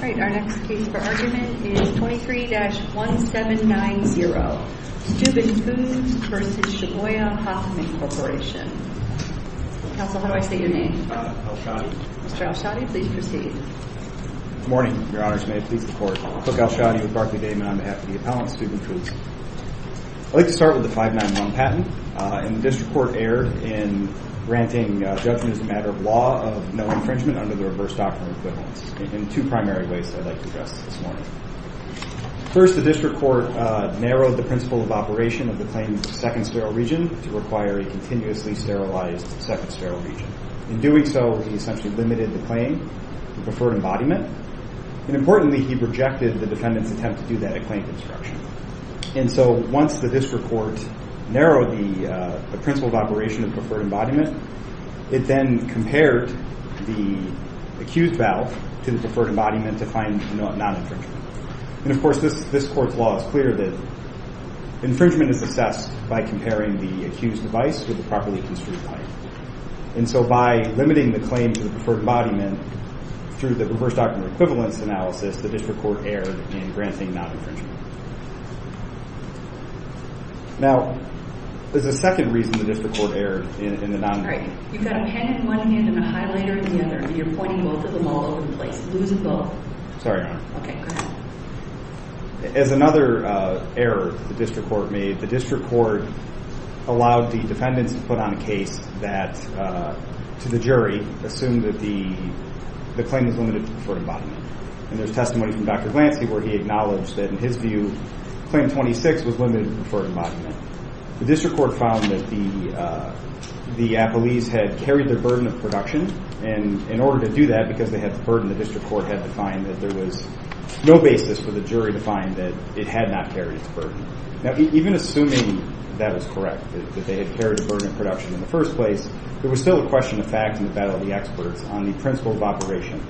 Our next case for argument is 23-1790, Steuben Foods v. Shibuya Hoppmann Corporation. Counsel, how do I say your name? Al-Shadi. Mr. Al-Shadi, please proceed. Good morning, Your Honors. May it please the Court. Cook Al-Shadi with Barclay-Damon on behalf of the appellant, Steuben Foods. I'd like to start with the 591 patent. The district court erred in granting judgment as a matter of law of no infringement under the reverse doctrine equivalence in two primary ways that I'd like to address this morning. First, the district court narrowed the principle of operation of the claimant's second sterile region to require a continuously sterilized second sterile region. In doing so, he essentially limited the claim to preferred embodiment. Importantly, he rejected the defendant's attempt to do that at claim construction. And so, once the district court narrowed the principle of operation of preferred embodiment, it then compared the accused valve to the preferred embodiment to find non-infringement. And of course, this court's law is clear that infringement is assessed by comparing the accused device with the properly construed pipe. And so, by limiting the claim to the preferred embodiment through the reverse doctrine equivalence analysis, the district court erred in granting non-infringement. Now, there's a second reason the district court erred in the non-infringement. You've got a pen in one hand and a highlighter in the other, and you're pointing both of them all over the place. Lose them both. Sorry, Your Honor. Okay, go ahead. As another error the district court made, the district court allowed the defendants to put on a case that, to the jury, assumed that the claim was limited to preferred embodiment. And there's testimony from Dr. Glancy where he acknowledged that, in his view, claim 26 was limited to preferred embodiment. The district court found that the appellees had carried their burden of production and, in order to do that, because they had the burden, the district court had to find that there was no basis for the jury to find that it had not carried its burden. Now, even assuming that was correct, that they had carried the burden of production in the first place, there was still a question of fact in the battle of the experts on the principle of operation.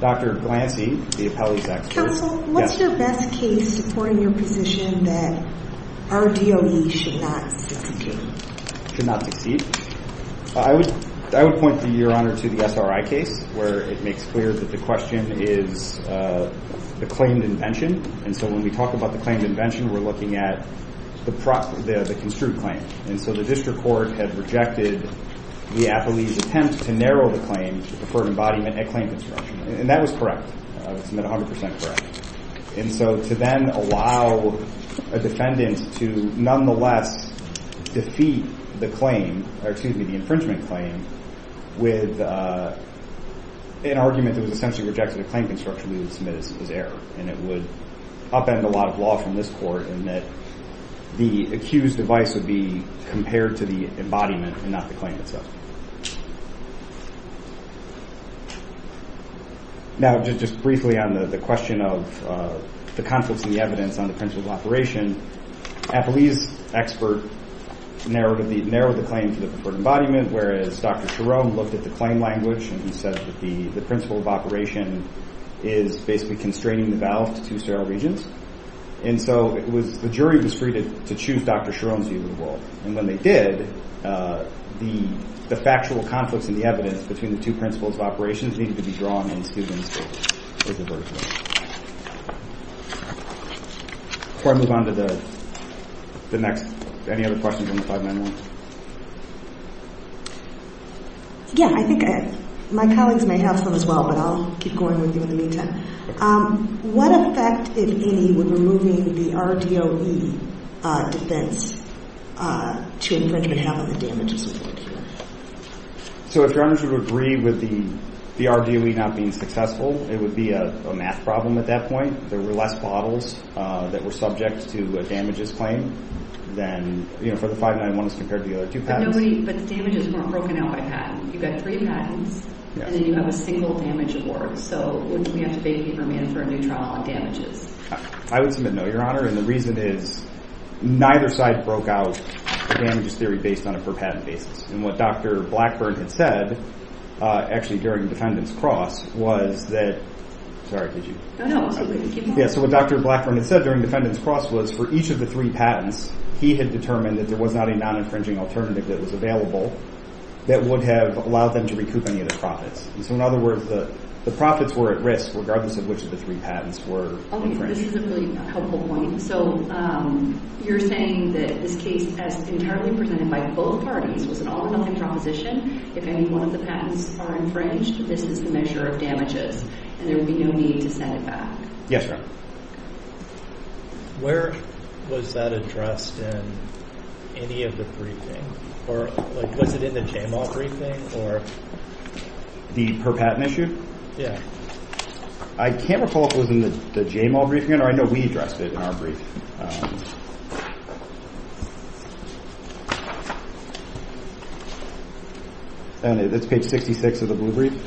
Dr. Glancy, the appellee's expert... Counsel, what's your best case supporting your position that our DOE should not succeed? Should not succeed? I would point, Your Honor, to the SRI case, where it makes clear that the question is the claimed invention. And so when we talk about the claimed invention, we're looking at the construed claim. And so the district court had rejected the appellee's attempt to narrow the claim to preferred embodiment at claim construction. And that was correct. That was 100% correct. And so to then allow a defendant to, nonetheless, defeat the claim, or excuse me, the infringement claim, with an argument that was essentially rejected at claim construction, we would submit as error. And it would upend a lot of law from this court in that the accused device would be compared to the embodiment and not the claim itself. Now, just briefly on the question of the conflicts in the evidence on the principle of operation, the appellee's expert narrowed the claim to the preferred embodiment, whereas Dr. Cherone looked at the claim language and he said that the principle of operation is basically constraining the valve to two sterile regions. And so the jury was free to choose Dr. Cherone's view of the world. And when they did, the factual conflicts in the evidence between the two principles of operations needed to be drawn in students' favor. Thank you very much. Before I move on to the next, any other questions on the 5-9-1? Yeah, I think my colleagues may have some as well, but I'll keep going with you in the meantime. What effect, if any, would removing the RDOE defense to infringement have on the damages reported here? So if your honors would agree with the RDOE not being successful, it would be a math problem at that point. There were less bottles that were subject to a damages claim than, you know, for the 5-9-1s compared to the other two patents. But nobody, but the damages weren't broken out by patent. You've got three patents, and then you have a single damage award. So wouldn't we have to bake paper man for a new trial on damages? I would submit no, your honor, and the reason is neither side broke out the damages theory based on a per-patent basis. And what Dr. Blackburn had said, actually during the defendant's cross, was that, sorry, did you? No, no, keep going. Yeah, so what Dr. Blackburn had said during defendant's cross was for each of the three patents, he had determined that there was not a non-infringing alternative that was available that would have allowed them to recoup any of the profits. So in other words, the profits were at risk regardless of which of the three patents were infringed. Okay, this is a really helpful point. So you're saying that this case, as entirely presented by both parties, was an all-or-nothing proposition. If any one of the patents are infringed, this is the measure of damages, and there would be no need to send it back. Yes, your honor. Where was that addressed in any of the briefing? Or, like, was it in the J-Mall briefing, or? The per-patent issue? Yeah. I can't recall if it was in the J-Mall briefing, or I know we addressed it in our briefing. All right. That's page 66 of the blue brief.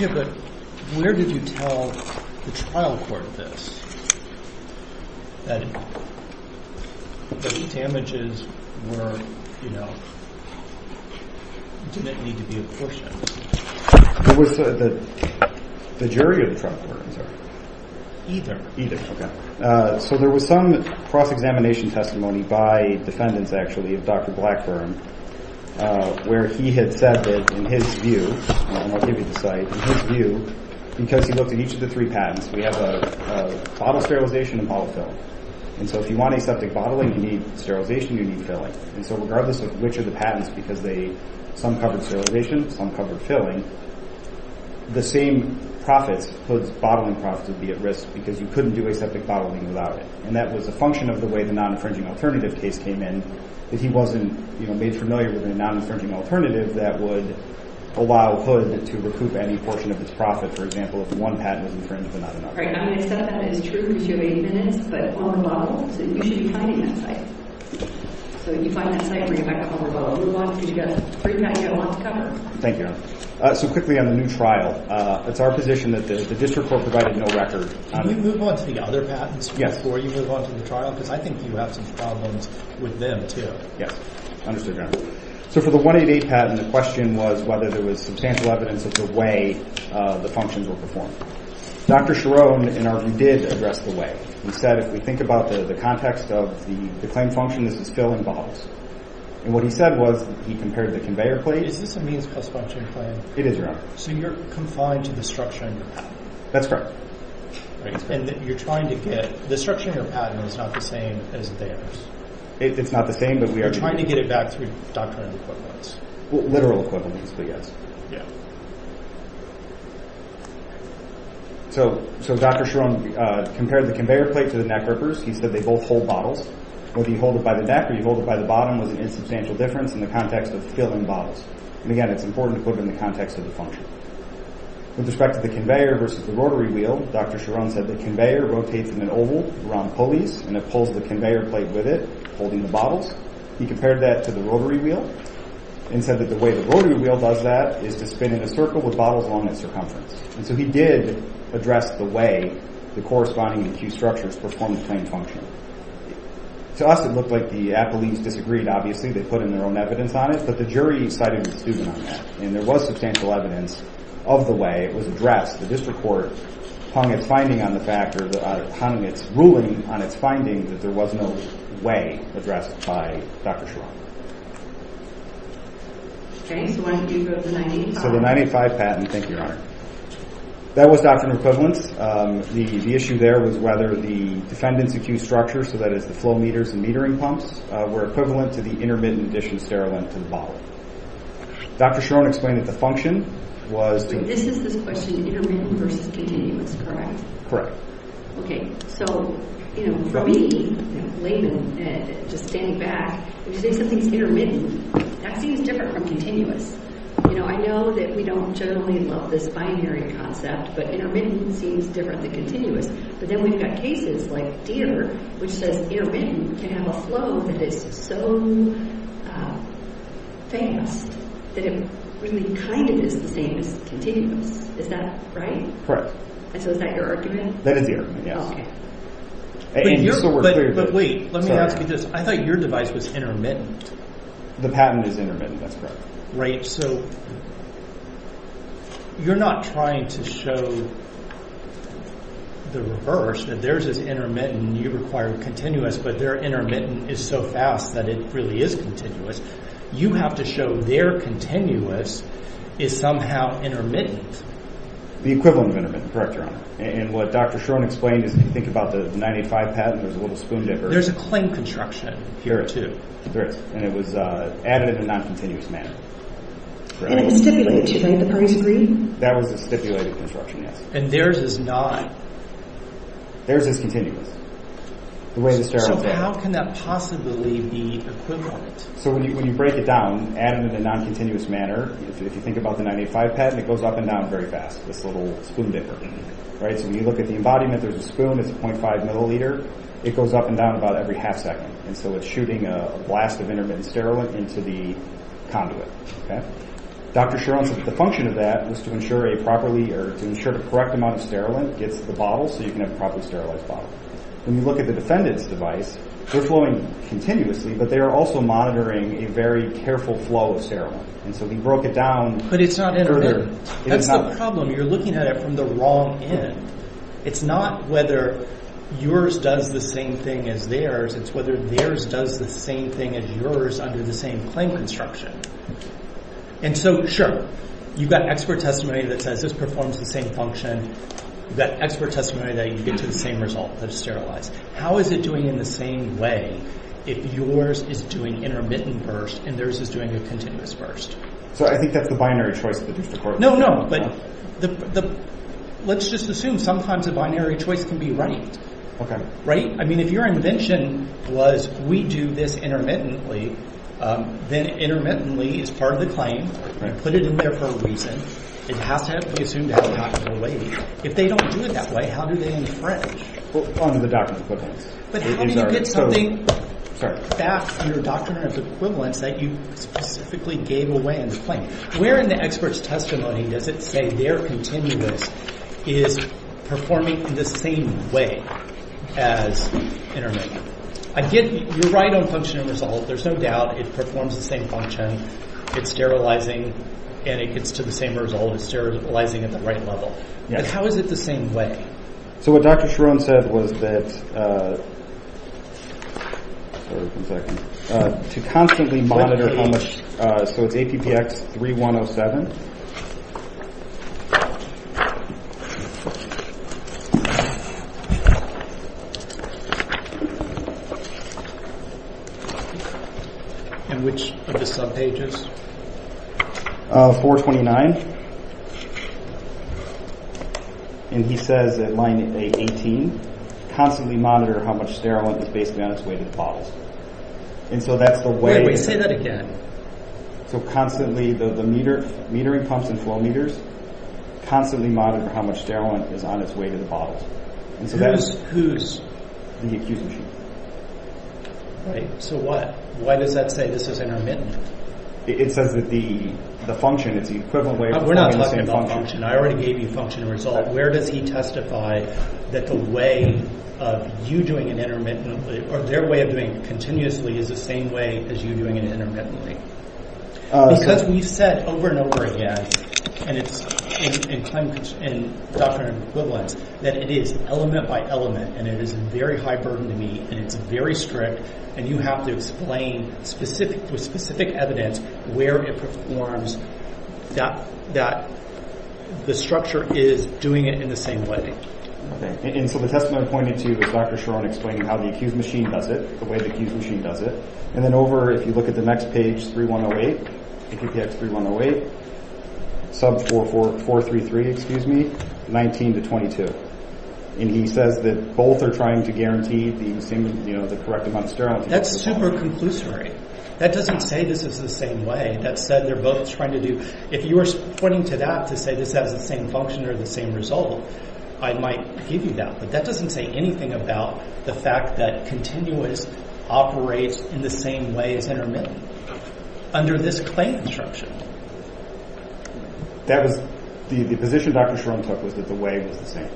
Yeah, but where did you tell the trial court this? That the damages were, you know, didn't need to be apportioned. It was the jury of the trial court, I'm sorry. Either. Either, okay. So there was some cross-examination testimony by defendants, actually, of Dr. Blackburn, where he had said that, in his view, and I'll give you the site, in his view, because he looked at each of the three patents, we have a bottle sterilization and a bottle fill. And so if you want aseptic bottling, you need sterilization, you need filling. And so regardless of which of the patents, because they, some covered sterilization, some covered filling, the same profits, bottling profits, would be at risk, because you couldn't do aseptic bottling without it. And that was a function of the way the non-infringing alternative case came in, that he wasn't, you know, made familiar with a non-infringing alternative that would allow HUD to recoup any portion of its profit, for example, if one patent was infringed but not another. All right, I'm going to set up as true, because you have 80 minutes, but on the bottles, and you should be finding that site. So if you find that site, bring it back home or bottle it. Move on, because you've got three patents you don't want to cover. Thank you, Your Honor. So quickly on the new trial. It's our position that the district court provided no record. Can you move on to the other patents before you move on to the trial? Because I think you have some problems with them, too. Yes, understood, Your Honor. So for the 188 patent, the question was whether there was substantial evidence of the way the functions were performed. Dr. Cherone, in our view, did address the way. He said, if we think about the context of the claim function, this is still involved. And what he said was, he compared the conveyor plate. Is this a means plus function claim? It is, Your Honor. So you're confined to the structure of the patent? That's correct. All right, and you're trying to get – the structure of your patent is not the same as theirs? It's not the same, but we are – Doctrine of equivalence. Well, literal equivalence, but yes. So Dr. Cherone compared the conveyor plate to the neck rippers. He said they both hold bottles. Whether you hold it by the neck or you hold it by the bottom was an insubstantial difference in the context of filling bottles. And again, it's important to put it in the context of the function. With respect to the conveyor versus the rotary wheel, Dr. Cherone said the conveyor rotates in an oval around pulleys and it pulls the conveyor plate with it, holding the bottles. He compared that to the rotary wheel and said that the way the rotary wheel does that is to spin in a circle with bottles along its circumference. And so he did address the way the corresponding acute structures perform the claim function. To us, it looked like the apoletes disagreed, obviously. They put in their own evidence on it, but the jury cited the student on that. And there was substantial evidence of the way it was addressed. The district court hung its finding on the fact, or hung its ruling on its finding that there was no way it could be addressed by Dr. Cherone. Okay, so why don't you go to the 985? So the 985 patent, thank you, Your Honor. That was doctrine of equivalence. The issue there was whether the defendant's acute structure, so that is the flow meters and metering pumps, were equivalent to the intermittent addition sterile length to the bottle. Dr. Cherone explained that the function was to... This is the question, intermittent versus continuous, correct? Correct. Okay, so, you know, for me, Layman, just standing back, when you say something's intermittent, that seems different from continuous. You know, I know that we don't generally love this binary concept, but intermittent seems different than continuous. But then we've got cases like Deere, which says intermittent can have a flow that is so fast that it really kind of is the same as continuous. Is that right? Correct. And so is that your argument? That is the argument, yes. Okay. But wait, let me ask you this. I thought your device was intermittent. The patent is intermittent, that's correct. Right, so you're not trying to show the reverse, that theirs is intermittent and you require continuous, but their intermittent is so fast that it really is continuous. You have to show their continuous is somehow intermittent. The equivalent of intermittent, correct, Your Honor. And what Dr. Shoren explained is, if you think about the 985 patent, there's a little spoon dipper. There's a claim construction here, too. There is, and it was added in a non-continuous manner. And it was stipulated, right, the parties agree? That was a stipulated construction, yes. And theirs is not. Theirs is continuous. So how can that possibly be equivalent? So when you break it down, add it in a non-continuous manner, if you think about the 985 patent, it goes up and down very fast, this little spoon dipper. Right, so when you look at the embodiment, there's a spoon, it's a .5 milliliter. It goes up and down about every half second. And so it's shooting a blast of intermittent sterilant into the conduit, okay? Dr. Shoren said the function of that was to ensure a properly, or to ensure the correct amount of sterilant gets to the bottle, so you can have a properly sterilized bottle. When you look at the defendant's device, they're flowing continuously, but they are also monitoring a very careful flow of sterilant. And so we broke it down further. But it's not intermittent. That's the problem. You're looking at it from the wrong end. It's not whether yours does the same thing as theirs. It's whether theirs does the same thing as yours under the same claim construction. And so, sure, you've got expert testimony that says this performs the same function. You've got expert testimony that you get to the same result that is sterilized. How is it doing in the same way if yours is doing intermittent burst and theirs is doing a continuous burst? So I think that's the binary choice of the district court. No, no, but let's just assume sometimes a binary choice can be right. Right? I mean, if your invention was, we do this intermittently, then intermittently is part of the claim. You put it in there for a reason. It has to be assumed to have happened in a way. If they don't do it that way, how do they infringe? Well, under the doctrine of equivalence. But how do you get something back under the doctrine of equivalence that you specifically gave away in the claim? Where in the expert's testimony does it say their continuous is performing the same way as intermittent? Again, you're right on function and result. There's no doubt it performs the same function. It's sterilizing, and it gets to the same result. It's sterilizing at the right level. But how is it the same way? So what Dr. Cherone said was that... Sorry, one second. To constantly monitor how much... 3107. And which of the subpages? 429. And he says at line 18, constantly monitor how much sterolin is based on its weight in bottles. And so that's the way... Wait, say that again. So constantly... The metering pumps and flow meters constantly monitor how much sterolin is on its weight in the bottles. And so that's... The accused's machine. Right. So what? Why does that say this is intermittent? It says that the function, it's the equivalent way of performing the same function. We're not talking about function. I already gave you function and result. Where does he testify that the way of you doing it intermittently, or their way of doing it continuously, is the same way as you doing it intermittently? Because we've said over and over again, and it's in Doctrine and Equivalents, that it is element by element, and it is a very high burden to meet, and it's very strict, and you have to explain with specific evidence where it performs that the structure is doing it in the same way. And so the testimony I'm pointing to is Dr. Cherone explaining how the accused's machine does it, the way the accused's machine does it. And then over, if you look at the next page, 3108, PQPX 3108, sub 433, excuse me, 19 to 22. And he says that both are trying to guarantee the correct amount of sterility. That's super conclusory. That doesn't say this is the same way. That said, they're both trying to do... If you were pointing to that to say this has the same function or the same result, I might give you that. But that doesn't say anything about the fact that Continuous operates in the same way as Intermittent under this claim instruction. That was... The position Dr. Cherone took was that the way was the same.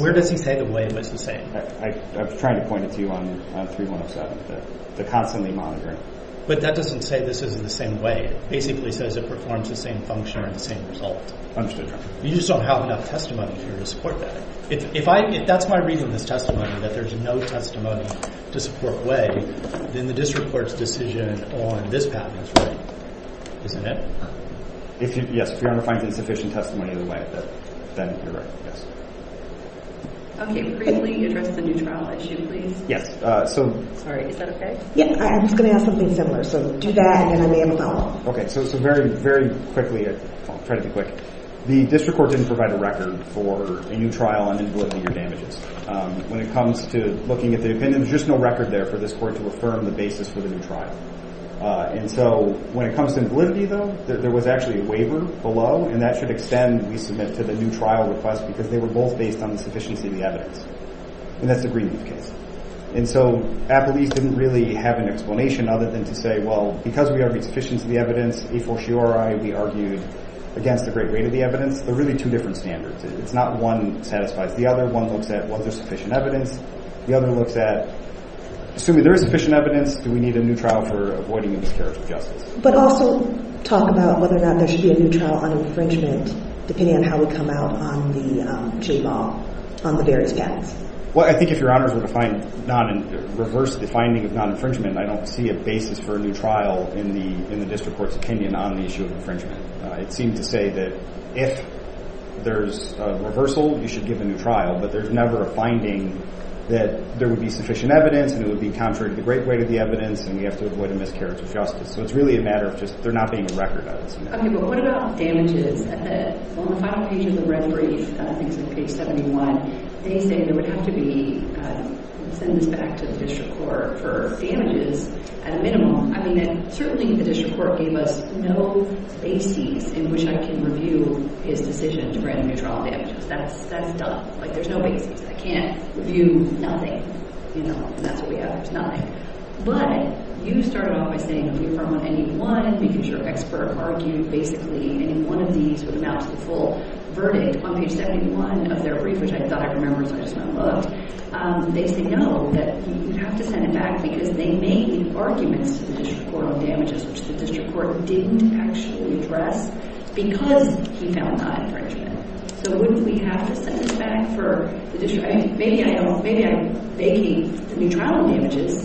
Where does he say the way was the same? I was trying to point it to you on 3107, the constantly monitoring. But that doesn't say this is the same way. It basically says it performs the same function or the same result. Understood, Your Honor. You just don't have enough testimony here to support that. If I... That's my reason in this testimony, that there's no testimony to support way, then the District Court's decision on this path is right. Isn't it? Yes. If Your Honor finds insufficient testimony of the way, then you're right. Okay. Briefly address the new trial issue, please. Yes. Sorry. Is that okay? Yeah. I was going to ask something similar. So do that and I may have a follow-up. Okay. So very, very quickly... I'll try to be quick. The District Court didn't provide a record for a new trial and then deliver your damages. When it comes to looking at the opinion, there's just no record there for this Court to affirm the basis for the new trial. And so when it comes to validity, though, there was actually a waiver below and that should extend, we submit, to the new trial request because they were both based on the sufficiency of the evidence. And that's the Greenleaf case. And so Applebees didn't really have an explanation other than to say, well, because we argued sufficiency of the evidence, a for sure, we argued against the great weight of the evidence. They're really two different standards. It's not one satisfies the other. One looks at, was there sufficient evidence? The other looks at, assuming there is sufficient evidence, do we need a new trial for avoiding a miscarriage of justice? But also talk about whether or not there should be a new trial on infringement depending on how we come out on the J-Law on the various panels. Well, I think if Your Honors were to find non- reverse the finding of non-infringement, I don't see a basis for a new trial in the District Court's opinion on the issue of infringement. It seems to say that if there's a reversal, you should give a new trial, but there's never a finding that there would be sufficient evidence and it would be contrary to the great weight of the evidence and we have to avoid a miscarriage of justice. So it's really a matter of just there not being a record of it. Okay, but what about damages? On the final page of the red brief, I think it's page 71, they say there would have to be, send this back to the District Court for damages at a minimum. I mean, certainly the District Court gave us no bases in which I can review his decision to grant a new trial damages. That's done. Like, there's no bases. I can't review nothing. You know, and that's what we have. There's nothing. But you started off by saying if you found any one, because your expert argued basically any one of these would amount to the full verdict on page 71 of their brief, which I thought I remembered so I just kind of looked, they say no, that you have to send it back because they made arguments to the District Court on damages, which the District Court didn't actually address because he found non-infringement. So wouldn't we have to send this back for the District Court? I mean, maybe I don't, maybe I'm making the new trial damages,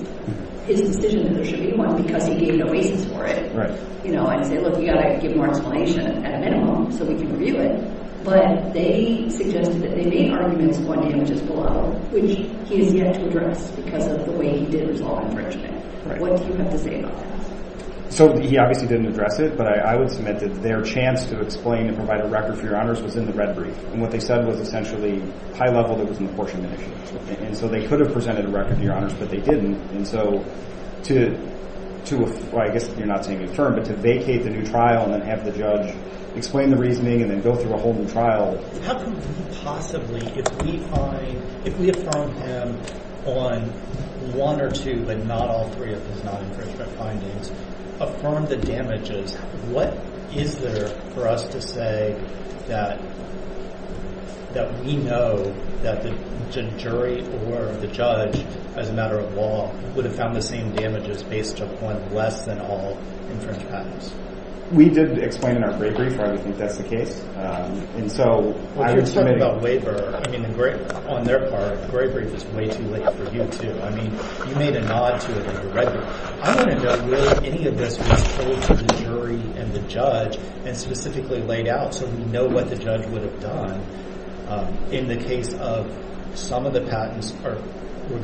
his decision that there should be one because he gave no bases for it. Right. You know, and say, look, you've got to give more explanation at a minimum so we can review it. But they suggested that they made arguments on damages below, which he has yet to address because of the way he did resolve infringement. Right. What do you have to say about that? So he obviously didn't address it, but I would submit that their chance to explain and provide a record for your honors was in the red brief. And what they said was essentially high level that was an apportionment issue. And so they could have presented a record to your honors, but they didn't. And so to, I guess you're not saying confirm, but to vacate the new trial and then have the judge explain the reasoning and then go through a whole new trial. How could we possibly, if we find, if we affirm him on one or two, but not all three of his non-infringement findings, affirm the damages, what is there for us to say that we know that the jury or the judge, as a matter of law, would have found the same damages based upon less than all infringement patterns? We did explain in our gray brief why we think that's the case. And so I would submit... Well, you're talking about waiver. I mean, on their part, the gray brief is way too late for you two. I mean, you made a nod to it in your red brief. I want to know, will any of this be told to the jury and the judge and specifically laid out so we know what the judge would have done in the case of some of the patents we're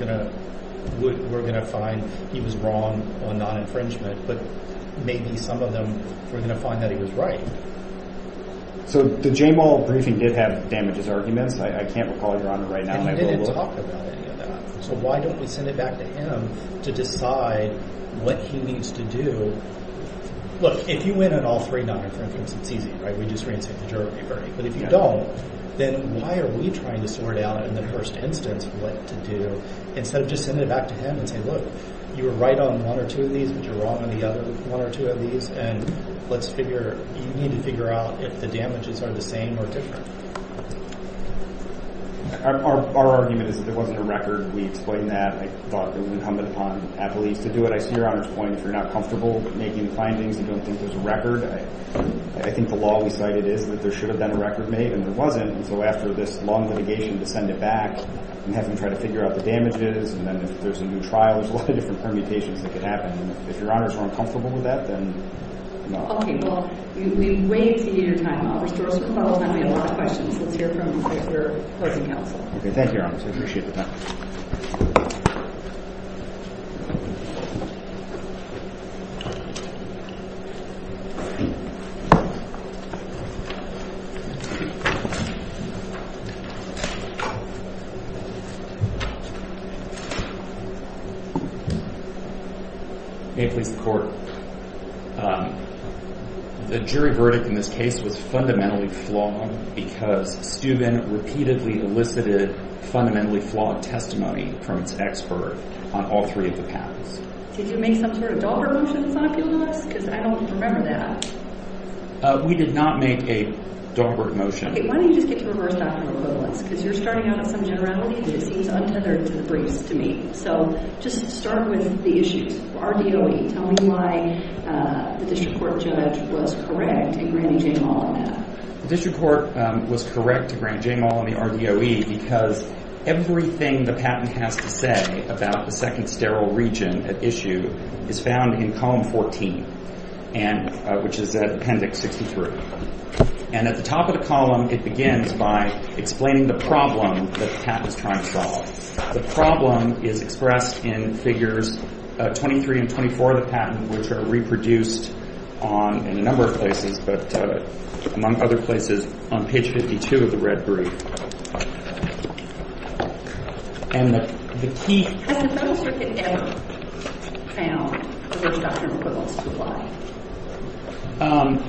going to find he was wrong on non-infringement, but maybe some of them we're going to find that he was right. So the Jane Wall briefing did have damages arguments. I can't recall, Your Honor, right now. And he didn't talk about any of that. So why don't we send it back to him to decide what he needs to do? Look, if you win on all three non-infringements, it's easy, right? We just reinsert the jury, Bernie. But if you don't, then why are we trying to sort out in the first instance what to do instead of just send it back to him and say, look, you were right on one or two of these, but you're wrong on the other one or two of these, and let's figure... You need to figure out if the damages are the same or different. Our argument is that there wasn't a record. We explained that. I thought it would incumbent upon athletes to do it. I see Your Honor's point. If you're not comfortable with making the findings and don't think there's a record, I think the law we cited is that there should have been a record made, and there wasn't, and so after this long litigation to send it back and having to try to figure out the damages and then if there's a new trial, there's a lot of different permutations that could happen. If Your Honor is more uncomfortable with that, then... Okay, well, we wait to hear your time, Officer. We have a lot of questions. Let's hear from you as we're closing counsel. Okay, thank you, Your Honor. I appreciate the time. May it please the Court. The jury verdict in this case was fundamentally flawed because Steuben repeatedly elicited fundamentally flawed testimony from its expert on all three of the patents. Did you make some sort of dollar motion in front of people in this? Because I don't remember that. We did not make a dollar motion. Okay, why don't you just get to reverse doctoral equivalence? Because you're starting out on some generality that seems untethered to the briefs to me. So just start with the issues. RDOE, tell me why the district court judge was correct in granting Jaymall on that. The district court was correct to grant Jaymall on the RDOE because everything the patent has to say about the second sterile region at issue is found in column 14, which is appendix 63. And at the top of the column, it begins by explaining the problem that the patent is trying to solve. The problem is expressed in figures 23 and 24 of the patent, which are reproduced in a number of places, but among other places on page 52 of the red brief. And the key... Has the federal circuit ever found reverse doctrinal equivalence to apply?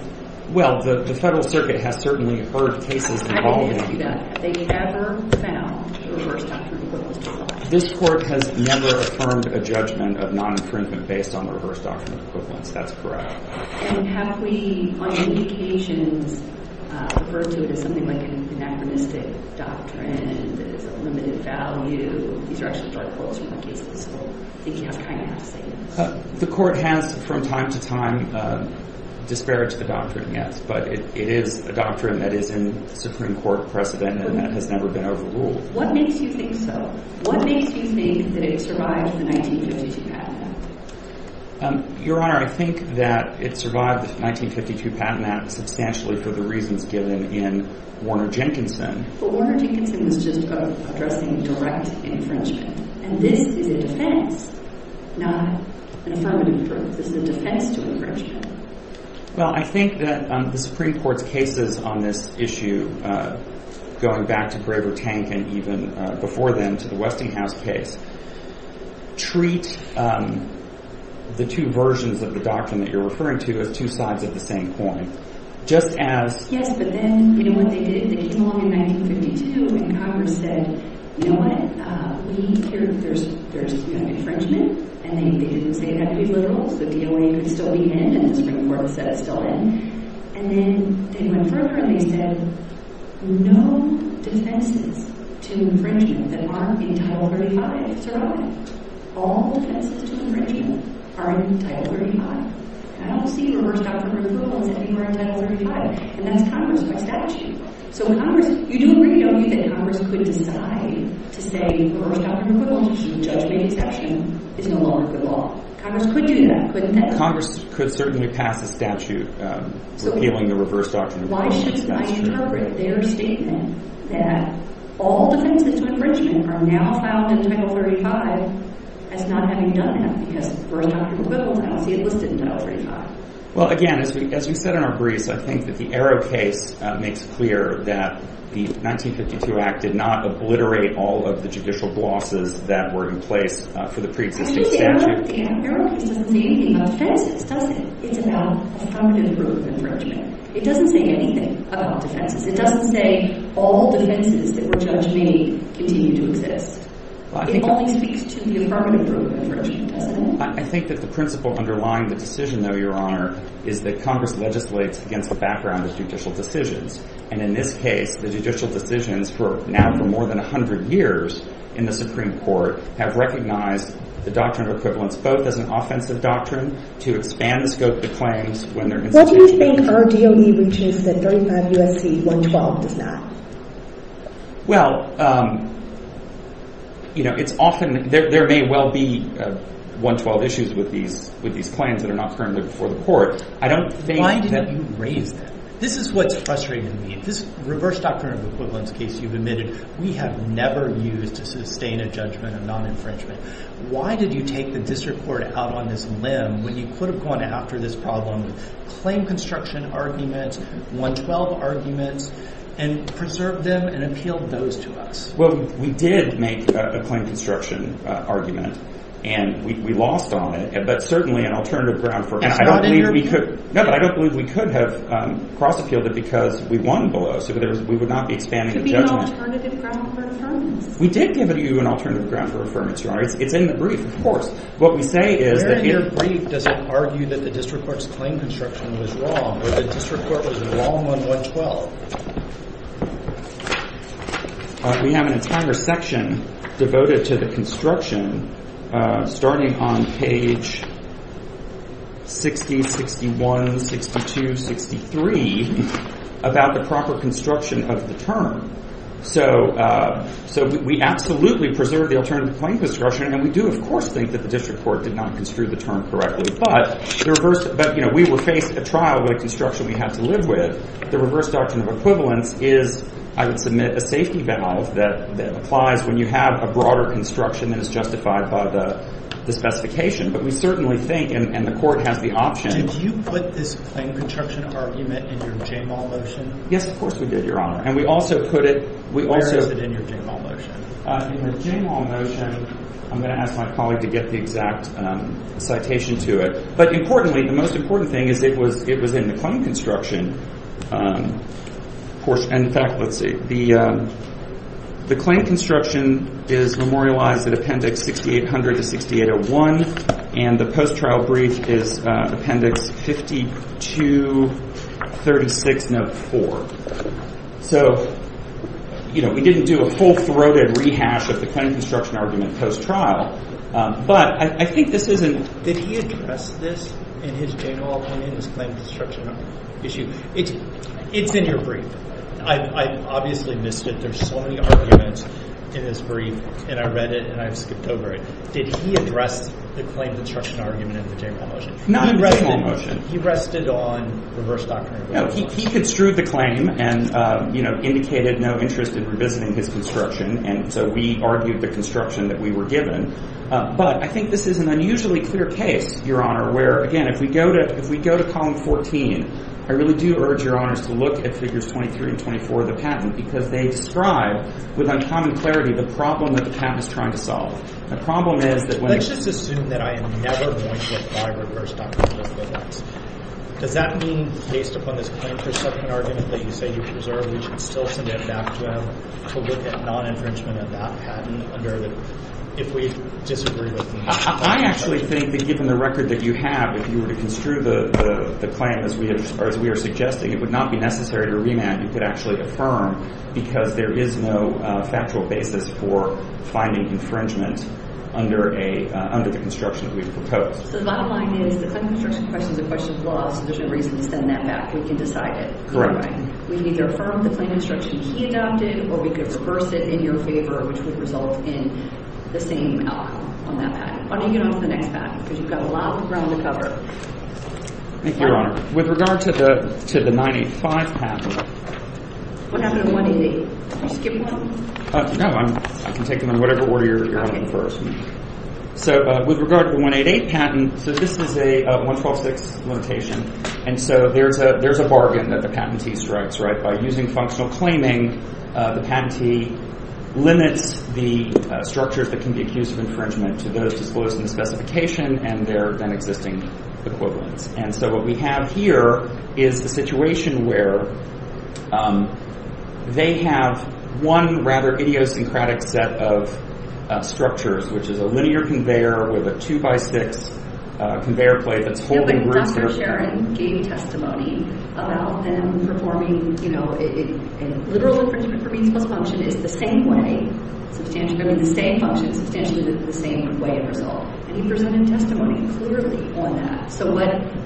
Well, the federal circuit has certainly heard cases involving... I didn't ask you that. Have they ever found reverse doctrinal equivalence to apply? This court has never affirmed a judgment of non-infringement based on the reverse doctrinal equivalence. That's correct. And have we, on many occasions, referred to it as something like an anachronistic doctrine that is of limited value? These are actually dark holes from my cases, so I think you have kind enough to say yes. The court has, from time to time, disparaged the doctrine, yes, but it is a doctrine that is in Supreme Court precedent and that has never been overruled. What makes you think so? What makes you think that it survived the 1952 Patent Act? Your Honor, I think that it survived the 1952 Patent Act substantially for the reasons given in Warner-Jenkinson. But Warner-Jenkinson was just addressing direct infringement, and this is a defense, not an affirmative proof. This is a defense to infringement. Well, I think that the Supreme Court's cases on this issue, going back to Graver Tank and even before then to the Westinghouse case, treat the two versions of the doctrine that you're referring to as two sides of the same coin, just as... Yes, but then, you know what they did? They came along in 1952, and Congress said, you know what, there's infringement, and they didn't say it had to be literal, so DOA could still be in, and the Supreme Court said it's still in. And then they went further, and they said, no defenses to infringement that aren't in Title 35 survive. All defenses to infringement are in Title 35. I don't see reverse doctrine of equivalence anywhere in Title 35, and that's Congress by statute. So Congress, you do agree, don't you, that Congress could decide to say reverse doctrine of equivalence is a judgment exception is no longer good law. Congress could do that, couldn't they? Congress could certainly pass a statute repealing the reverse doctrine of equivalence. Why should I interpret their statement that all defenses to infringement are now found in Title 35 as not having done that, because reverse doctrine of equivalence, it was listed in Title 35. Well, again, as we said in our briefs, I think that the Arrow case makes clear that the 1952 Act did not obliterate all of the judicial glosses that were in place for the preexisting statute. The Arrow case doesn't say anything about defenses, does it? It's about affirmative rule of infringement. It doesn't say anything about defenses. It doesn't say all defenses that were judged may continue to exist. It only speaks to the affirmative rule of infringement, doesn't it? I think that the principle underlying the decision, though, Your Honor, is that Congress legislates against the background of judicial decisions. And in this case, the judicial decisions for now for more than 100 years in the Supreme Court have recognized the doctrine of equivalence both as an offensive doctrine to expand the scope of the claims when they're instituted in Congress. What do you think our DOE reaches that 35 U.S.C. 112 does not? Well, you know, it's often... There may well be 112 issues with these plans that are not currently before the court. I don't think that... Why didn't you raise that? This is what's frustrating me. This reverse doctrine of equivalence case you've admitted, we have never used to sustain a judgment of non-infringement. Why did you take the district court out on this limb when you could have gone after this problem with claim construction arguments, 112 arguments, and preserved them and appealed those to us? Well, we did make a claim construction argument, and we lost on it, but certainly an alternative ground for... It's not in your brief. No, but I don't believe we could have cross-appealed it because we won below, so we would not be expanding the judgment. Could we have an alternative ground for affirmation? We did give you an alternative ground for affirmation, Your Honor. It's in the brief, of course. What we say is that... Where in your brief does it argue that the district court's claim construction was wrong, or the district court was wrong on 112? We have an entire section devoted to the construction, starting on page 60, 61, 62, 63, about the proper construction of the term. So we absolutely preserved the alternative claim construction, and we do, of course, think that the district court did not construe the term correctly, but the reverse... But, you know, we would face a trial with a construction we have to live with. The reverse doctrine of equivalence is, I would submit, a safety valve that applies when you have a broader construction that is justified by the specification, but we certainly think, and the court has the option... Did you put this claim construction argument in your Jamal motion? Yes, of course we did, Your Honor, and we also put it... Where is it in your Jamal motion? In the Jamal motion, I'm going to ask my colleague to get the exact citation to it, but importantly, the most important thing is it was in the claim construction portion. In fact, let's see. The claim construction is memorialized at Appendix 6800-6801, and the post-trial brief is Appendix 5236-04. So, you know, we didn't do a full-throated rehash of the claim construction argument post-trial, but I think this isn't... Did he address this in his Jamal, in his claim construction issue? It's in your brief. I obviously missed it. There's so many arguments in his brief, and I read it, and I skipped over it. Did he address the claim construction argument in the Jamal motion? Not in the Jamal motion. He rested on reverse doctrine. No, he construed the claim and, you know, indicated no interest in revisiting his construction, and so we argued the construction that we were given, but I think this is an unusually clear case, Your Honor, where, again, if we go to Column 14, I really do urge Your Honors to look at Figures 23 and 24 of the patent because they describe with uncommon clarity the problem that the patent is trying to solve. The problem is that when... Let's just assume that I am never going to apply reverse doctrine to this case. Does that mean, based upon this claim construction argument that you say you preserve, we should still submit it back to him to look at non-infringement of that patent if we disagree with him? I actually think that given the record that you have, if you were to construe the claim as we are suggesting, it would not be necessary to remand. You could actually affirm because there is no factual basis for finding infringement under the construction that we've proposed. So the bottom line is the claim construction question is a question of law, so there's no reason to send that back. We can decide it. Correct. We can either affirm the claim construction he adopted or we could reverse it in your favor, which would result in the same outcome on that patent. Why don't you get on to the next patent because you've got a lot of ground to cover. Thank you, Your Honor. With regard to the 985 patent... What happened to the 188? Did you skip one? No. I can take them in whatever order you're having first. So with regard to the 188 patent, so this is a 1126 limitation, and so there's a bargain that the patentee strikes, right? By using functional claiming, the patentee limits the structures that can be accused of infringement to those disclosed in the specification and their then-existing equivalents. And so what we have here is the situation where they have one rather idiosyncratic set of structures, which is a linear conveyor with a 2-by-6 conveyor plate that's holding roots... Dr. Sharon gave testimony about them performing, you know, in literal infringement for means plus function, is the same way, substantially, I mean, the same function, substantially the same way in result. And he presented testimony clearly on that. So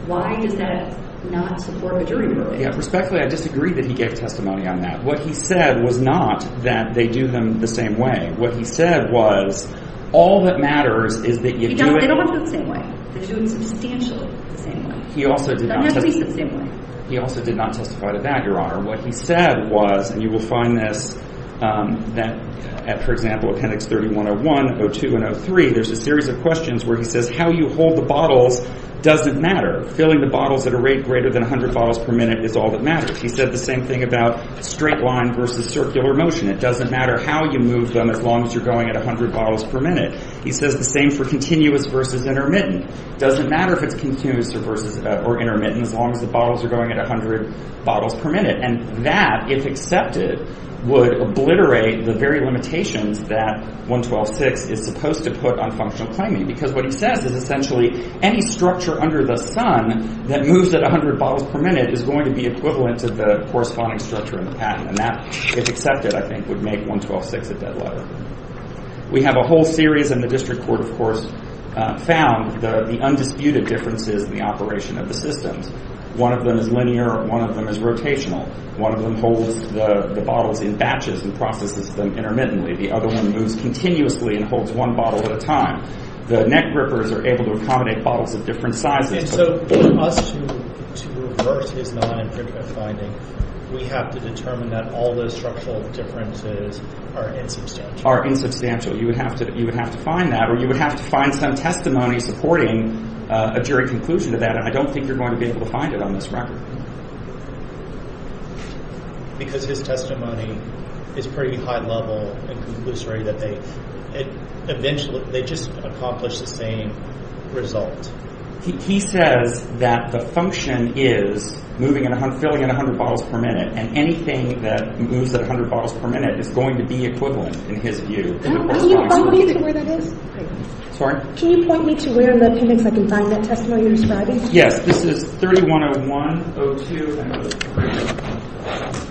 why does that not support a jury ruling? Respectfully, I disagree that he gave testimony on that. What he said was not that they do them the same way. What he said was all that matters is that you do it... They don't have to go the same way. They're doing substantially the same way. He also did not... They don't have to be the same way. He also did not testify to that, Your Honor. What he said was, and you will find this at, for example, Appendix 3101, 02, and 03, there's a series of questions where he says how you hold the bottles doesn't matter. Filling the bottles at a rate greater than 100 bottles per minute is all that matters. He said the same thing about straight line versus circular motion. It doesn't matter how you move them as long as you're going at 100 bottles per minute. He says the same for continuous versus intermittent. Doesn't matter if it's continuous or intermittent as long as the bottles are going at 100 bottles per minute. And that, if accepted, would obliterate the very limitations that 112.6 is supposed to put on functional claiming because what he says is essentially any structure under the sun that moves at 100 bottles per minute is going to be equivalent to the corresponding structure in the patent. And that, if accepted, I think, would make 112.6 a dead letter. We have a whole series, and the district court, of course, found the undisputed differences in the operation of the systems. One of them is linear. One of them is rotational. One of them holds the bottles in batches and processes them intermittently. The other one moves continuously and holds one bottle at a time. The neck grippers are able to accommodate bottles of different sizes. And so for us to reverse his non-improvement finding, we have to determine that all those structural differences are insubstantial. Are insubstantial. You would have to find that, or you would have to find some testimony supporting a jury conclusion of that, and I don't think you're going to be able to find it on this record. Because his testimony is pretty high-level and conclusory that they just accomplished the same result. He says that the function is filling in 100 bottles per minute, and anything that moves at 100 bottles per minute is going to be equivalent in his view. Can you point me to where that is? Sorry? Yes, this is 3101-02.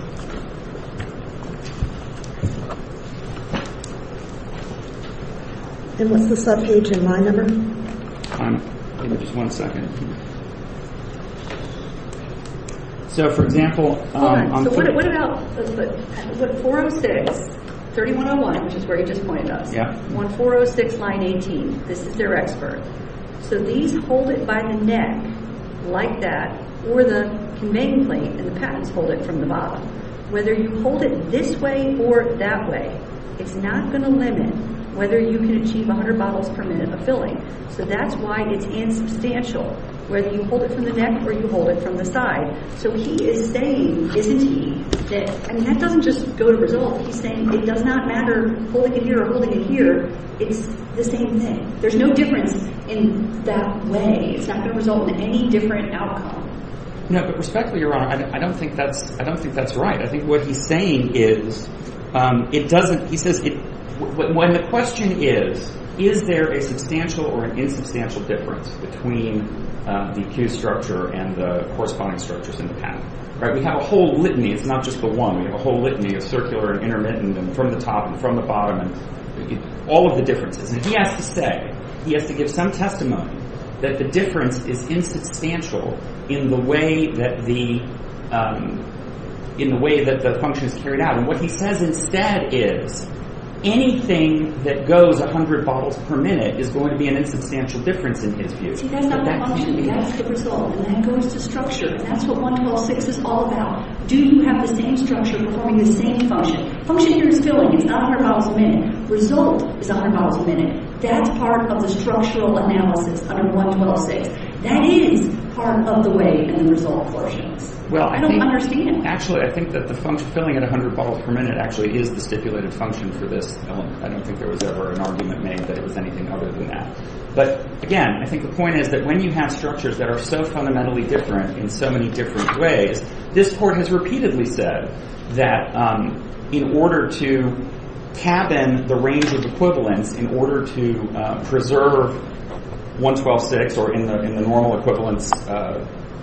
And what's the subpage in line number? Give me just one second. So, for example. What about 406, 3101, which is where you just pointed us. 1406, line 18. This is their expert. So these hold it by the neck like that, or the conveying plate and the patents hold it from the bottom. Whether you hold it this way or that way, it's not going to limit whether you can achieve 100 bottles per minute of filling. So that's why it's insubstantial, whether you hold it from the neck or you hold it from the side. So he is saying, isn't he, that that doesn't just go to resolve. He's saying it does not matter holding it here or holding it here. It's the same thing. There's no difference in that way. It's not going to result in any different outcome. No, but respectfully, Your Honor, I don't think that's right. I think what he's saying is it doesn't. He says when the question is, is there a substantial or an insubstantial difference between the accused structure and the corresponding structures in the patent. We have a whole litany. It's not just the one. We have a whole litany of circular and intermittent and from the top and from the bottom and all of the differences. And he has to say, he has to give some testimony that the difference is insubstantial in the way that the function is carried out. And what he says instead is anything that goes 100 bottles per minute is going to be an insubstantial difference in his view. See, that's not the function. That's the result. And that goes to structure. And that's what 112.6 is all about. Do you have the same structure performing the same function? Function here is filling. It's not 100 bottles a minute. Result is 100 bottles a minute. That's part of the structural analysis under 112.6. That is part of the way in the result portions. I don't understand. Actually, I think that the filling at 100 bottles per minute actually is the stipulated function for this element. I don't think there was ever an argument made that it was anything other than that. But again, I think the point is that when you have structures that are so fundamentally different in so many different ways, this Court has repeatedly said that in order to tab in the range of equivalence, in order to preserve 112.6 or in the normal equivalence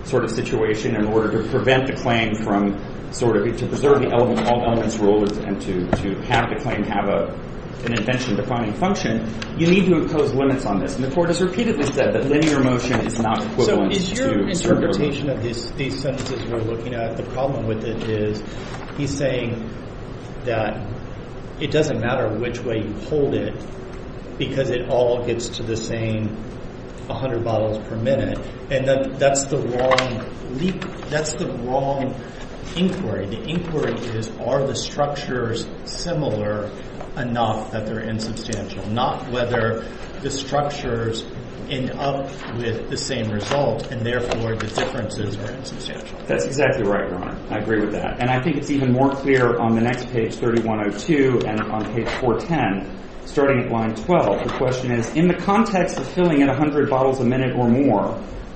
sort of situation, in order to prevent the claim from sort of... to preserve the all-elements rule and to have the claim have an invention-defining function, you need to impose limits on this. And the Court has repeatedly said that linear motion is not equivalent to circular motion. So is your interpretation of these sentences you're looking at the problem with it is he's saying that it doesn't matter which way you hold it because it all gets to the same 100 bottles per minute. And that's the wrong inquiry. The inquiry is are the structures similar enough that they're insubstantial, not whether the structures end up with the same result and therefore the differences are insubstantial. That's exactly right, Your Honor. I agree with that. And I think it's even more clear on the next page, 3102, and on page 410, starting at line 12. The question is, in the context of filling in 100 bottles a minute or more,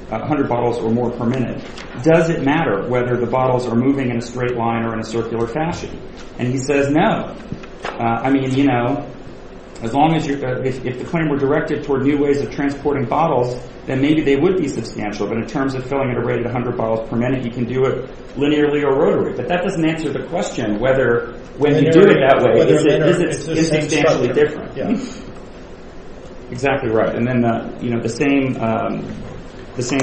100 bottles or more per minute, does it matter whether the bottles are moving in a straight line or in a circular fashion? And he says no. I mean, you know, as long as you're... if the claim were directed toward new ways of transporting bottles, then maybe they would be substantial. But in terms of filling at a rate of 100 bottles per minute, you can do it linearly or rotary. But that doesn't answer the question whether when you do it that way, is it substantially different? Yeah. Exactly right. And then, you know, the same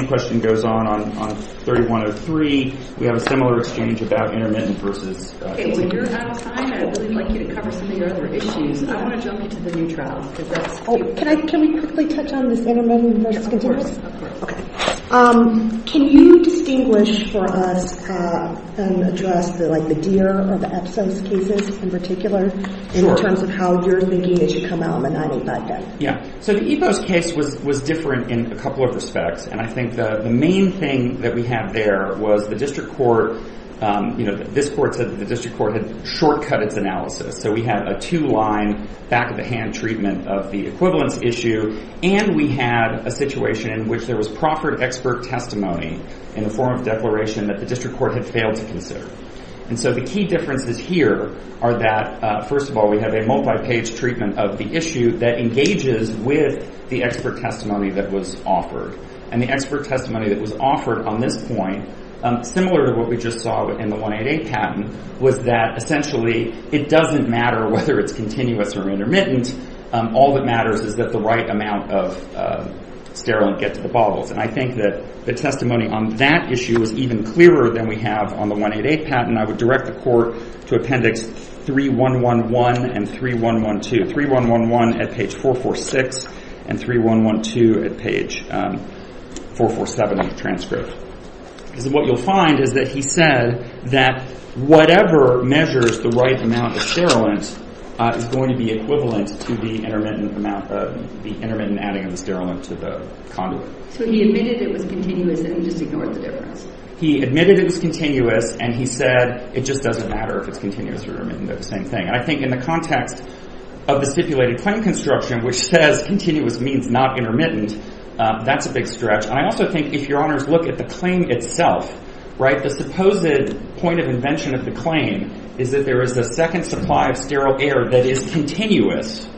question goes on on 3103. We have a similar exchange about intermittent versus continuous. Okay, when you're out of time, I'd really like you to cover some of your other issues. I want to jump into the new trial. Can we quickly touch on this intermittent versus continuous? Of course. Okay. Can you distinguish for us and address, like, the DEER or the EPSOS cases in particular in terms of how you're thinking it should come out on the 985 day? Yeah. So the EPOS case was different in a couple of respects. And I think the main thing that we had there was the district court, you know, this court said that the district court had shortcut its analysis. So we had a two-line, back-of-the-hand treatment of the equivalence issue. And we had a situation in which there was proffered expert testimony in the form of declaration that the district court had failed to consider. And so the key differences here are that, first of all, we have a multi-page treatment of the issue that engages with the expert testimony that was offered. And the expert testimony that was offered on this point, similar to what we just saw in the 188 patent, was that, essentially, it doesn't matter whether it's continuous or intermittent. All that matters is that the right amount of sterilant get to the bottles. And I think that the testimony on that issue was even clearer than we have on the 188 patent. I would direct the court to appendix 3111 and 3112. 3111 at page 446, and 3112 at page 447 of the transcript. Because what you'll find is that he said that whatever measures the right amount of sterilant is going to be equivalent to the intermittent amount of... the intermittent adding of the sterilant to the conduit. So he admitted it was continuous, and he just ignored the difference. He admitted it was continuous, and he said, it just doesn't matter if it's continuous or intermittent. They're the same thing. And I think in the context of the stipulated claim construction, which says continuous means not intermittent, that's a big stretch. And I also think, if your honors look at the claim itself, right, the supposed point of invention of the claim is that there is a second supply of sterile air that is continuous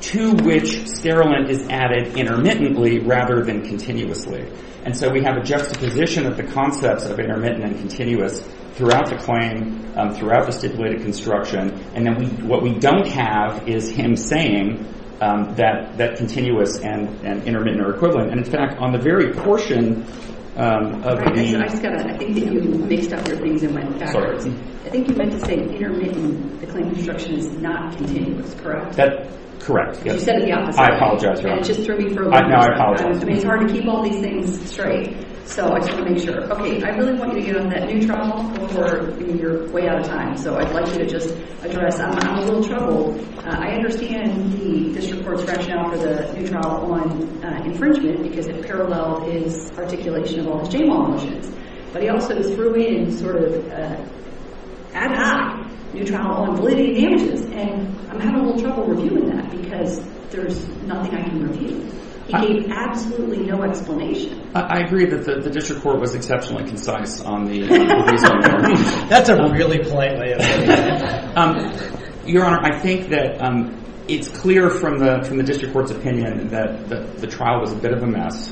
to which sterilant is added intermittently rather than continuously. And so we have a juxtaposition of the concepts of intermittent and continuous throughout the claim, throughout the stipulated construction, and then what we don't have is him saying that continuous and intermittent are equivalent. And, in fact, on the very portion of the... I think you meant to say intermittent. The claim construction is not continuous, correct? You said it the opposite way. I apologize. And it just threw me for a loop. Now I apologize. I mean, it's hard to keep all these things straight. So I just want to make sure. Okay, I really want you to get on that new trial before you're way out of time. So I'd like you to just address that. I'm in a little trouble. I understand the district court's rationale for the new trial on infringement because it paralleled his articulation of all his j-mal motions. But he also threw in sort of ad hoc new trial on validity of damages, and I'm having a little trouble reviewing that because there's nothing I can review. He gave absolutely no explanation. I agree that the district court was exceptionally concise on the... That's a really polite way of saying it. Your Honor, I think that it's clear from the district court's opinion that the trial was a bit of a mess,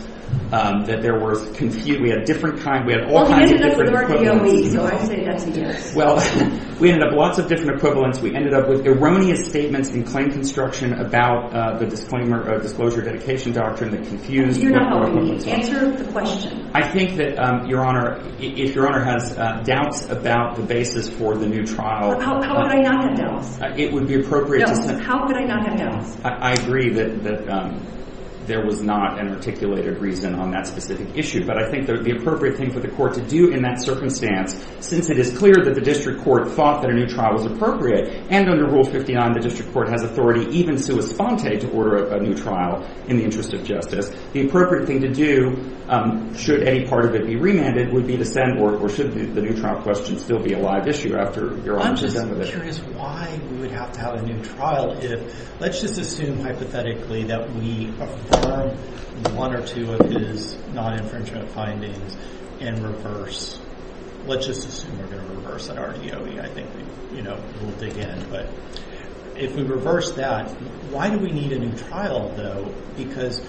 that there was... We had all kinds of different equivalents. Well, he ended up with the right DOE, so I say that's a yes. Well, we ended up with lots of different equivalents. We ended up with erroneous statements in claim construction about the disclosure dedication doctrine that confused... You're not helping me answer the question. I think that, Your Honor, if Your Honor has doubts about the basis for the new trial... How could I not have doubts? It would be appropriate to... How could I not have doubts? I agree that there was not an articulated basis on that specific issue, but I think the appropriate thing for the court to do in that circumstance, since it is clear that the district court thought that a new trial was appropriate, and under Rule 59, the district court has authority, even sua sponte, to order a new trial in the interest of justice, the appropriate thing to do, should any part of it be remanded, would be to send... Or should the new trial question still be a live issue after Your Honor's done with it? I'm just curious why we would have to have a new trial if... Let's just assume, hypothetically, that we affirm one or two of these non-infringement findings and reverse... Let's just assume we're going to reverse an RDOE. I think we'll dig in. But if we reverse that, why do we need a new trial, though? Because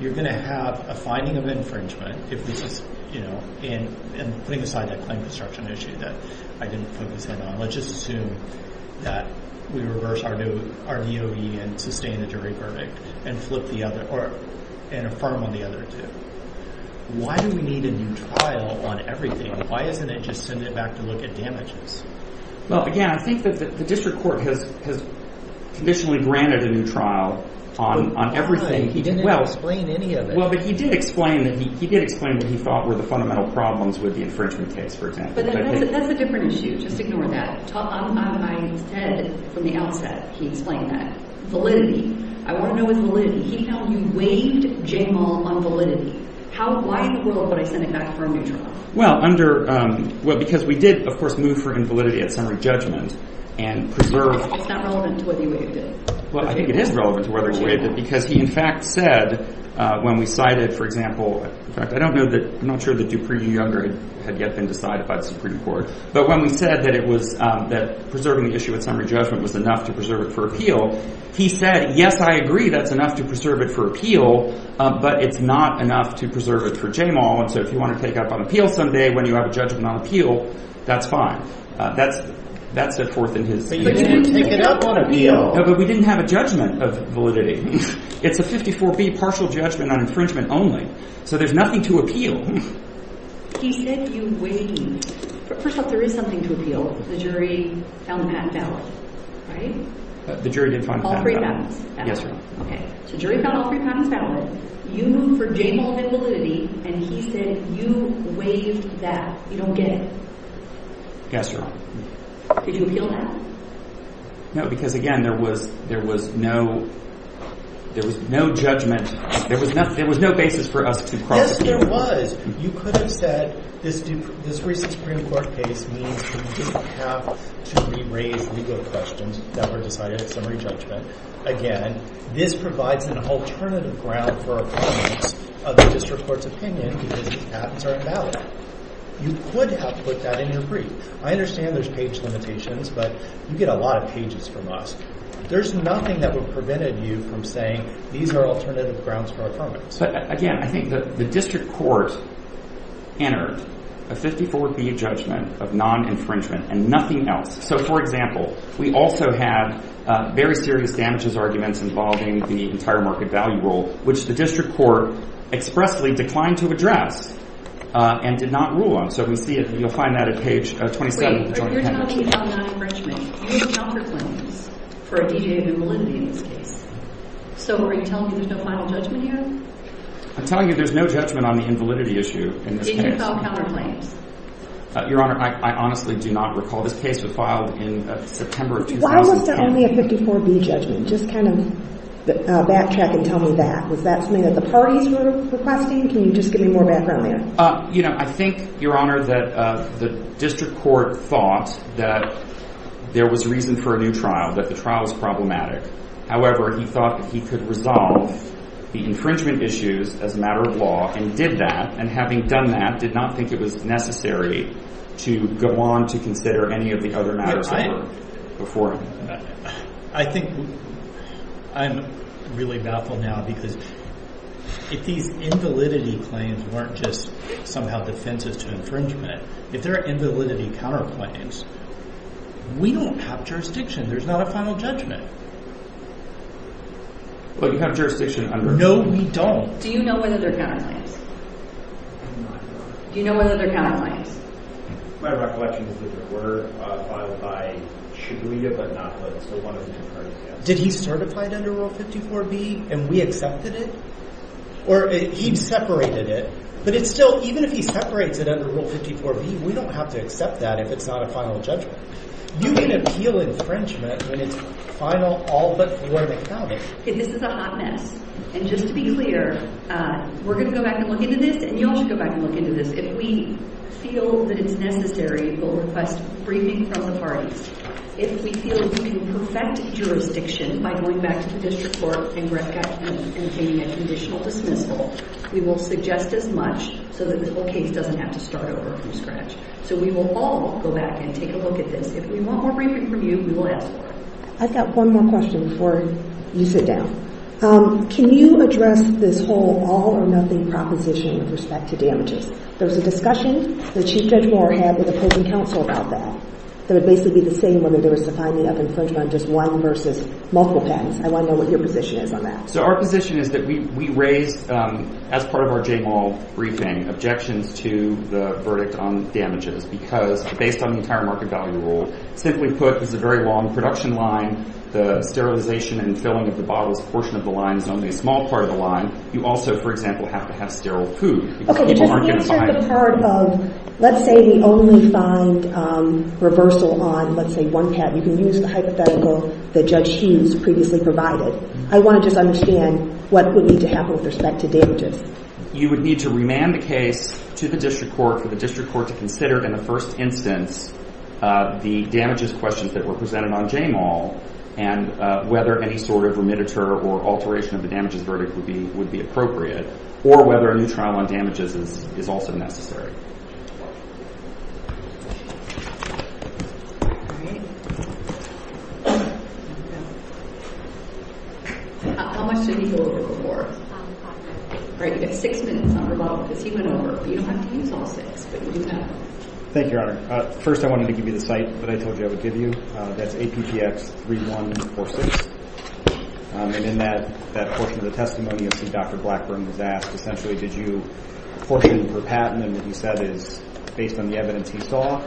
you're going to have a finding of infringement if this is... And putting aside that claim construction issue that I didn't focus in on, let's just assume that we reverse RDOE and sustain a jury verdict and flip the other... Or... And affirm on the other two. Why do we need a new trial on everything? Why isn't it just send it back to look at damages? Well, again, I think that the district court has conditionally granted a new trial on everything. He didn't explain any of it. Well, but he did explain... He did explain what he thought were the fundamental problems with the infringement case, for example. But that's a different issue. Just ignore that. Ted, from the outset, he explained that. I want to know his validity. He told you you waived JML on validity. Why in the world would I send it back for a new trial? Well, under... Well, because we did, of course, move for invalidity at summary judgment and preserve... It's not relevant to whether you waived it. Well, I think it is relevant to whether it's waived because he, in fact, said when we cited, for example... In fact, I don't know that... I'm not sure that Dupree Younger had yet been decided by the Supreme Court. But when we said that it was... That preserving the issue at summary judgment was enough to preserve it for appeal, he said, yes, I agree that's enough to preserve it for appeal, but it's not enough to preserve it for JML. And so if you want to take up on appeal someday when you have a judgment on appeal, that's fine. That's set forth in his... But you didn't take it up on appeal. No, but we didn't have a judgment of validity. It's a 54B partial judgment on infringement only. So there's nothing to appeal. He said you waived... First off, there is something to appeal. The jury found the patent valid, right? The jury didn't find the patent valid. All three patents. Yes, ma'am. Okay, so jury found all three patents valid. You, for JML, did validity, and he said you waived that. You don't get it. Yes, ma'am. Did you appeal that? No, because, again, there was no... There was no judgment. There was no basis for us to cross it. Yes, there was. You could have said, this recent Supreme Court case means that we didn't have to re-raise legal questions that were decided at summary judgment. Again, this provides an alternative ground for affirmance of the district court's opinion because these patents are invalid. You could have put that in your brief. I understand there's page limitations, but you get a lot of pages from us. There's nothing that would have prevented you from saying these are alternative grounds for affirmance. So, again, I think the district court entered a 54B judgment of non-infringement and nothing else. So, for example, we also had very serious damages arguments involving the entire market value rule, which the district court expressly declined to address and did not rule on. So if you see it, you'll find that at page 27. Wait, you're talking about non-infringement. You did not proclaim this for a deviated validity in this case. So are you telling me there's no final judgment here? I'm telling you there's no judgment on the invalidity issue in this case. Did you file counterclaims? Your Honor, I honestly do not recall. This case was filed in September of 2010. Why was there only a 54B judgment? Just kind of backtrack and tell me that. Was that something that the parties were requesting? Can you just give me more background there? You know, I think, Your Honor, that the district court thought that there was reason for a new trial, that the trial was problematic. However, he thought that he could resolve the infringement issues as a matter of law and did that, and having done that, did not think it was necessary to go on to consider any of the other matters that were before him. I think I'm really baffled now because if these invalidity claims weren't just somehow defensive to infringement, if there are invalidity counterclaims, we don't have jurisdiction. There's not a final judgment. But you have jurisdiction under Rule 54B. No, we don't. Do you know whether there are counterclaims? I do not, Your Honor. Do you know whether there are counterclaims? My recollection is that there were, filed by Shibuya, but not by, so one of the two parties, yes. Did he certify it under Rule 54B, and we accepted it? Or he separated it, but it's still, even if he separates it under Rule 54B, we don't have to accept that if it's not a final judgment. You can appeal infringement when it's a final, all-but-void account. This is a hot mess. And just to be clear, we're going to go back and look into this, and you all should go back and look into this. If we feel that it's necessary to request briefing from the parties, if we feel that we can perfect jurisdiction by going back to the district court and obtaining a conditional dismissal, we will suggest as much so that the whole case doesn't have to start over from scratch. So we will all go back and take a look at this. If we want more briefing from you, we will ask for it. I've got one more question before you sit down. Can you address this whole all-or-nothing proposition with respect to damages? There was a discussion that Chief Judge Moore had with opposing counsel about that, that it would basically be the same when there was the finding of infringement of just one versus multiple patents. I want to know what your position is on that. So our position is that we raise, as part of our J. Moore briefing, objections to the verdict on damages because, based on the entire market value rule, simply put, this is a very long production line. The sterilization and filling of the bottles portion of the line is only a small part of the line. You also, for example, have to have sterile food because people aren't going to find it. Okay, just answer the part of, let's say we only find reversal on, let's say, one patent. You can use the hypothetical that Judge Hughes previously provided. I want to just understand what would need to happen with respect to damages. You would need to remand the case to the district court for the district court to consider, in the first instance, the damages questions that were presented on J. Moore and whether any sort of remittiture or alteration of the damages verdict would be appropriate, or whether a new trial on damages is also necessary. How much did he hold before? All right, you got six minutes, Dr. Ball, because he went over. You don't have to use all six, but you do have to. Thank you, Your Honor. First, I wanted to give you the site that I told you I would give you. That's APTX 3146. And in that portion of the testimony, Dr. Blackburn was asked, essentially, did you, portion per patent, and what he said is, based on the evidence he saw,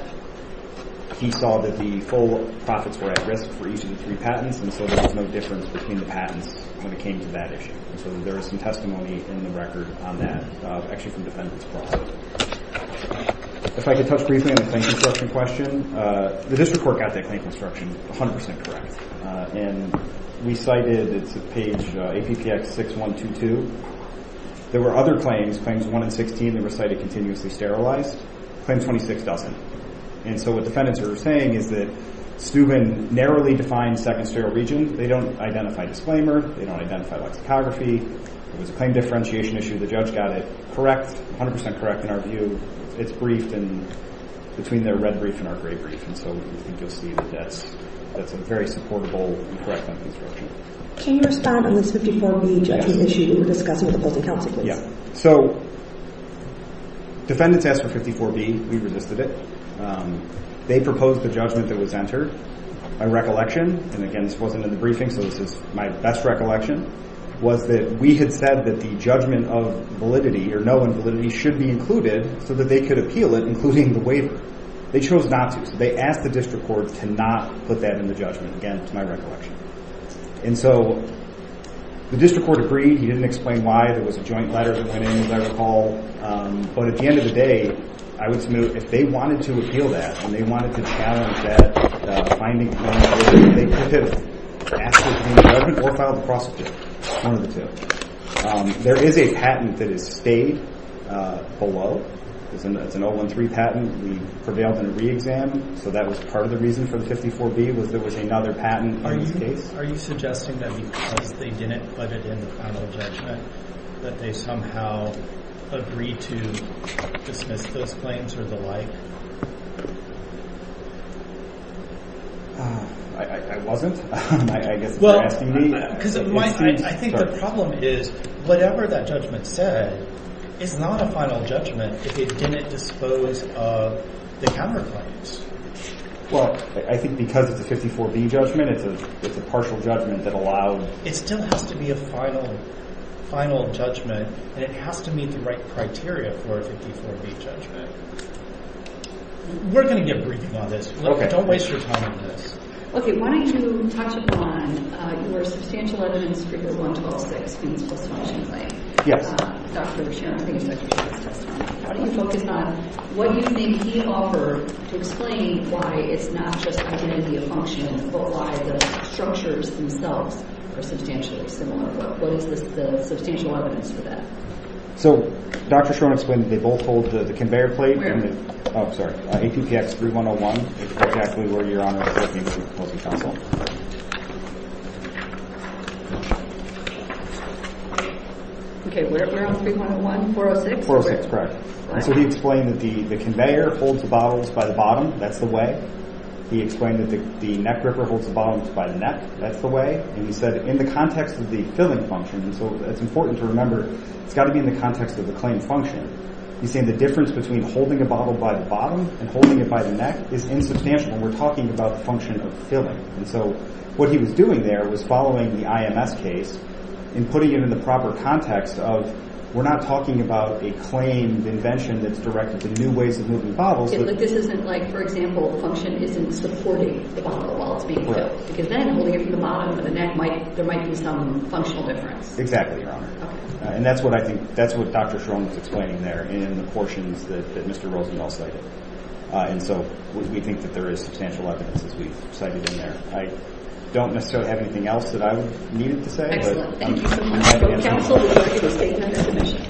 he saw that the full profits were at risk for each of the three patents, and so there was no difference between the patents when it came to that issue. And so there is some testimony in the record on that, actually from defendants' profit. If I could touch briefly on the claim construction question. The district court got that claim construction 100% correct. And we cited, it's at page APTX 6122. There were other claims, Claims 1 and 16, that were cited continuously sterilized. Claim 26 doesn't. And so what defendants are saying is that Steuben narrowly defined second sterile region. They don't identify disclaimer. They don't identify lexicography. It was a claim differentiation issue. The judge got it correct, 100% correct in our view. It's briefed in, between their red brief and our gray brief. And so I think you'll see that that's a very supportable and correct on construction. Can you respond on this 54B judgment issue that you were discussing with opposing counsel, please? So defendants asked for 54B. We resisted it. They proposed the judgment that was entered. My recollection, and again this wasn't in the briefing, so this is my best recollection, was that we had said that the judgment of validity, or no in validity, should be included so that they could appeal it, including the waiver. They chose not to. So they asked the district court to not put that in the judgment, again, to my recollection. And so the district court agreed. He didn't explain why. There was a joint letter that went in, as I recall. But at the end of the day, I would submit if they wanted to appeal that, and they wanted to challenge that finding, they could have asked it in the judgment or filed the prosecutor. One of the two. There is a patent that has stayed below. It's an 013 patent. We prevailed in a re-exam, so that was part of the reason for the 54B was there was another patent on this case. Are you suggesting that because they didn't put it in the final judgment that they somehow agreed to dismiss those claims or the like? I wasn't. I think the problem is whatever that judgment said is not a final judgment if it didn't dispose of the counterclaims. Well, I think because it's a 54B judgment, it's a partial judgment that allowed... It still has to be a final judgment, and it has to meet the right criteria for a 54B judgment. We're going to get briefing on this. Don't waste your time on this. Okay, why don't you touch upon your substantial evidence for your 1126 fiends post-functional claim. Dr. Schroen, I think it's Dr. Schroen's testimony. How do you focus on what you think he offered to explain why it's not just identity of function but why the structures themselves are substantially similar? What is the substantial evidence for that? So, Dr. Schroen explained that they both hold the conveyor plate. Oh, sorry. APPX 3101 is exactly where your Honor is looking for post-functional. Okay, where on 3101? 406? 406, correct. And so he explained that the conveyor holds the bottles by the bottom. That's the way. He explained that the neck gripper holds the bottles by the neck. That's the way. And he said in the context of the filling function, and so it's important to remember it's got to be in the context of the claim function, he's saying the difference between holding a bottle by the bottom and holding it by the neck is insubstantial when we're talking about the function of filling. And so what he was doing there was following the IMS case and putting it in the proper context of we're not talking about a claimed invention that's directed to new ways of moving bottles. Okay, but this isn't like, for example, the function isn't supporting the bottle while it's being filled. Correct. Because then holding it from the bottom or the neck, there might be some functional difference. Exactly, Your Honor. And that's what I think, that's what Dr. Schroen was explaining there in the portions that Mr. Rosenthal cited. And so we think that there is substantial evidence as we've cited in there. I don't necessarily have anything else that I needed to say. Thank you so much. Counsel, you are here to state your definition.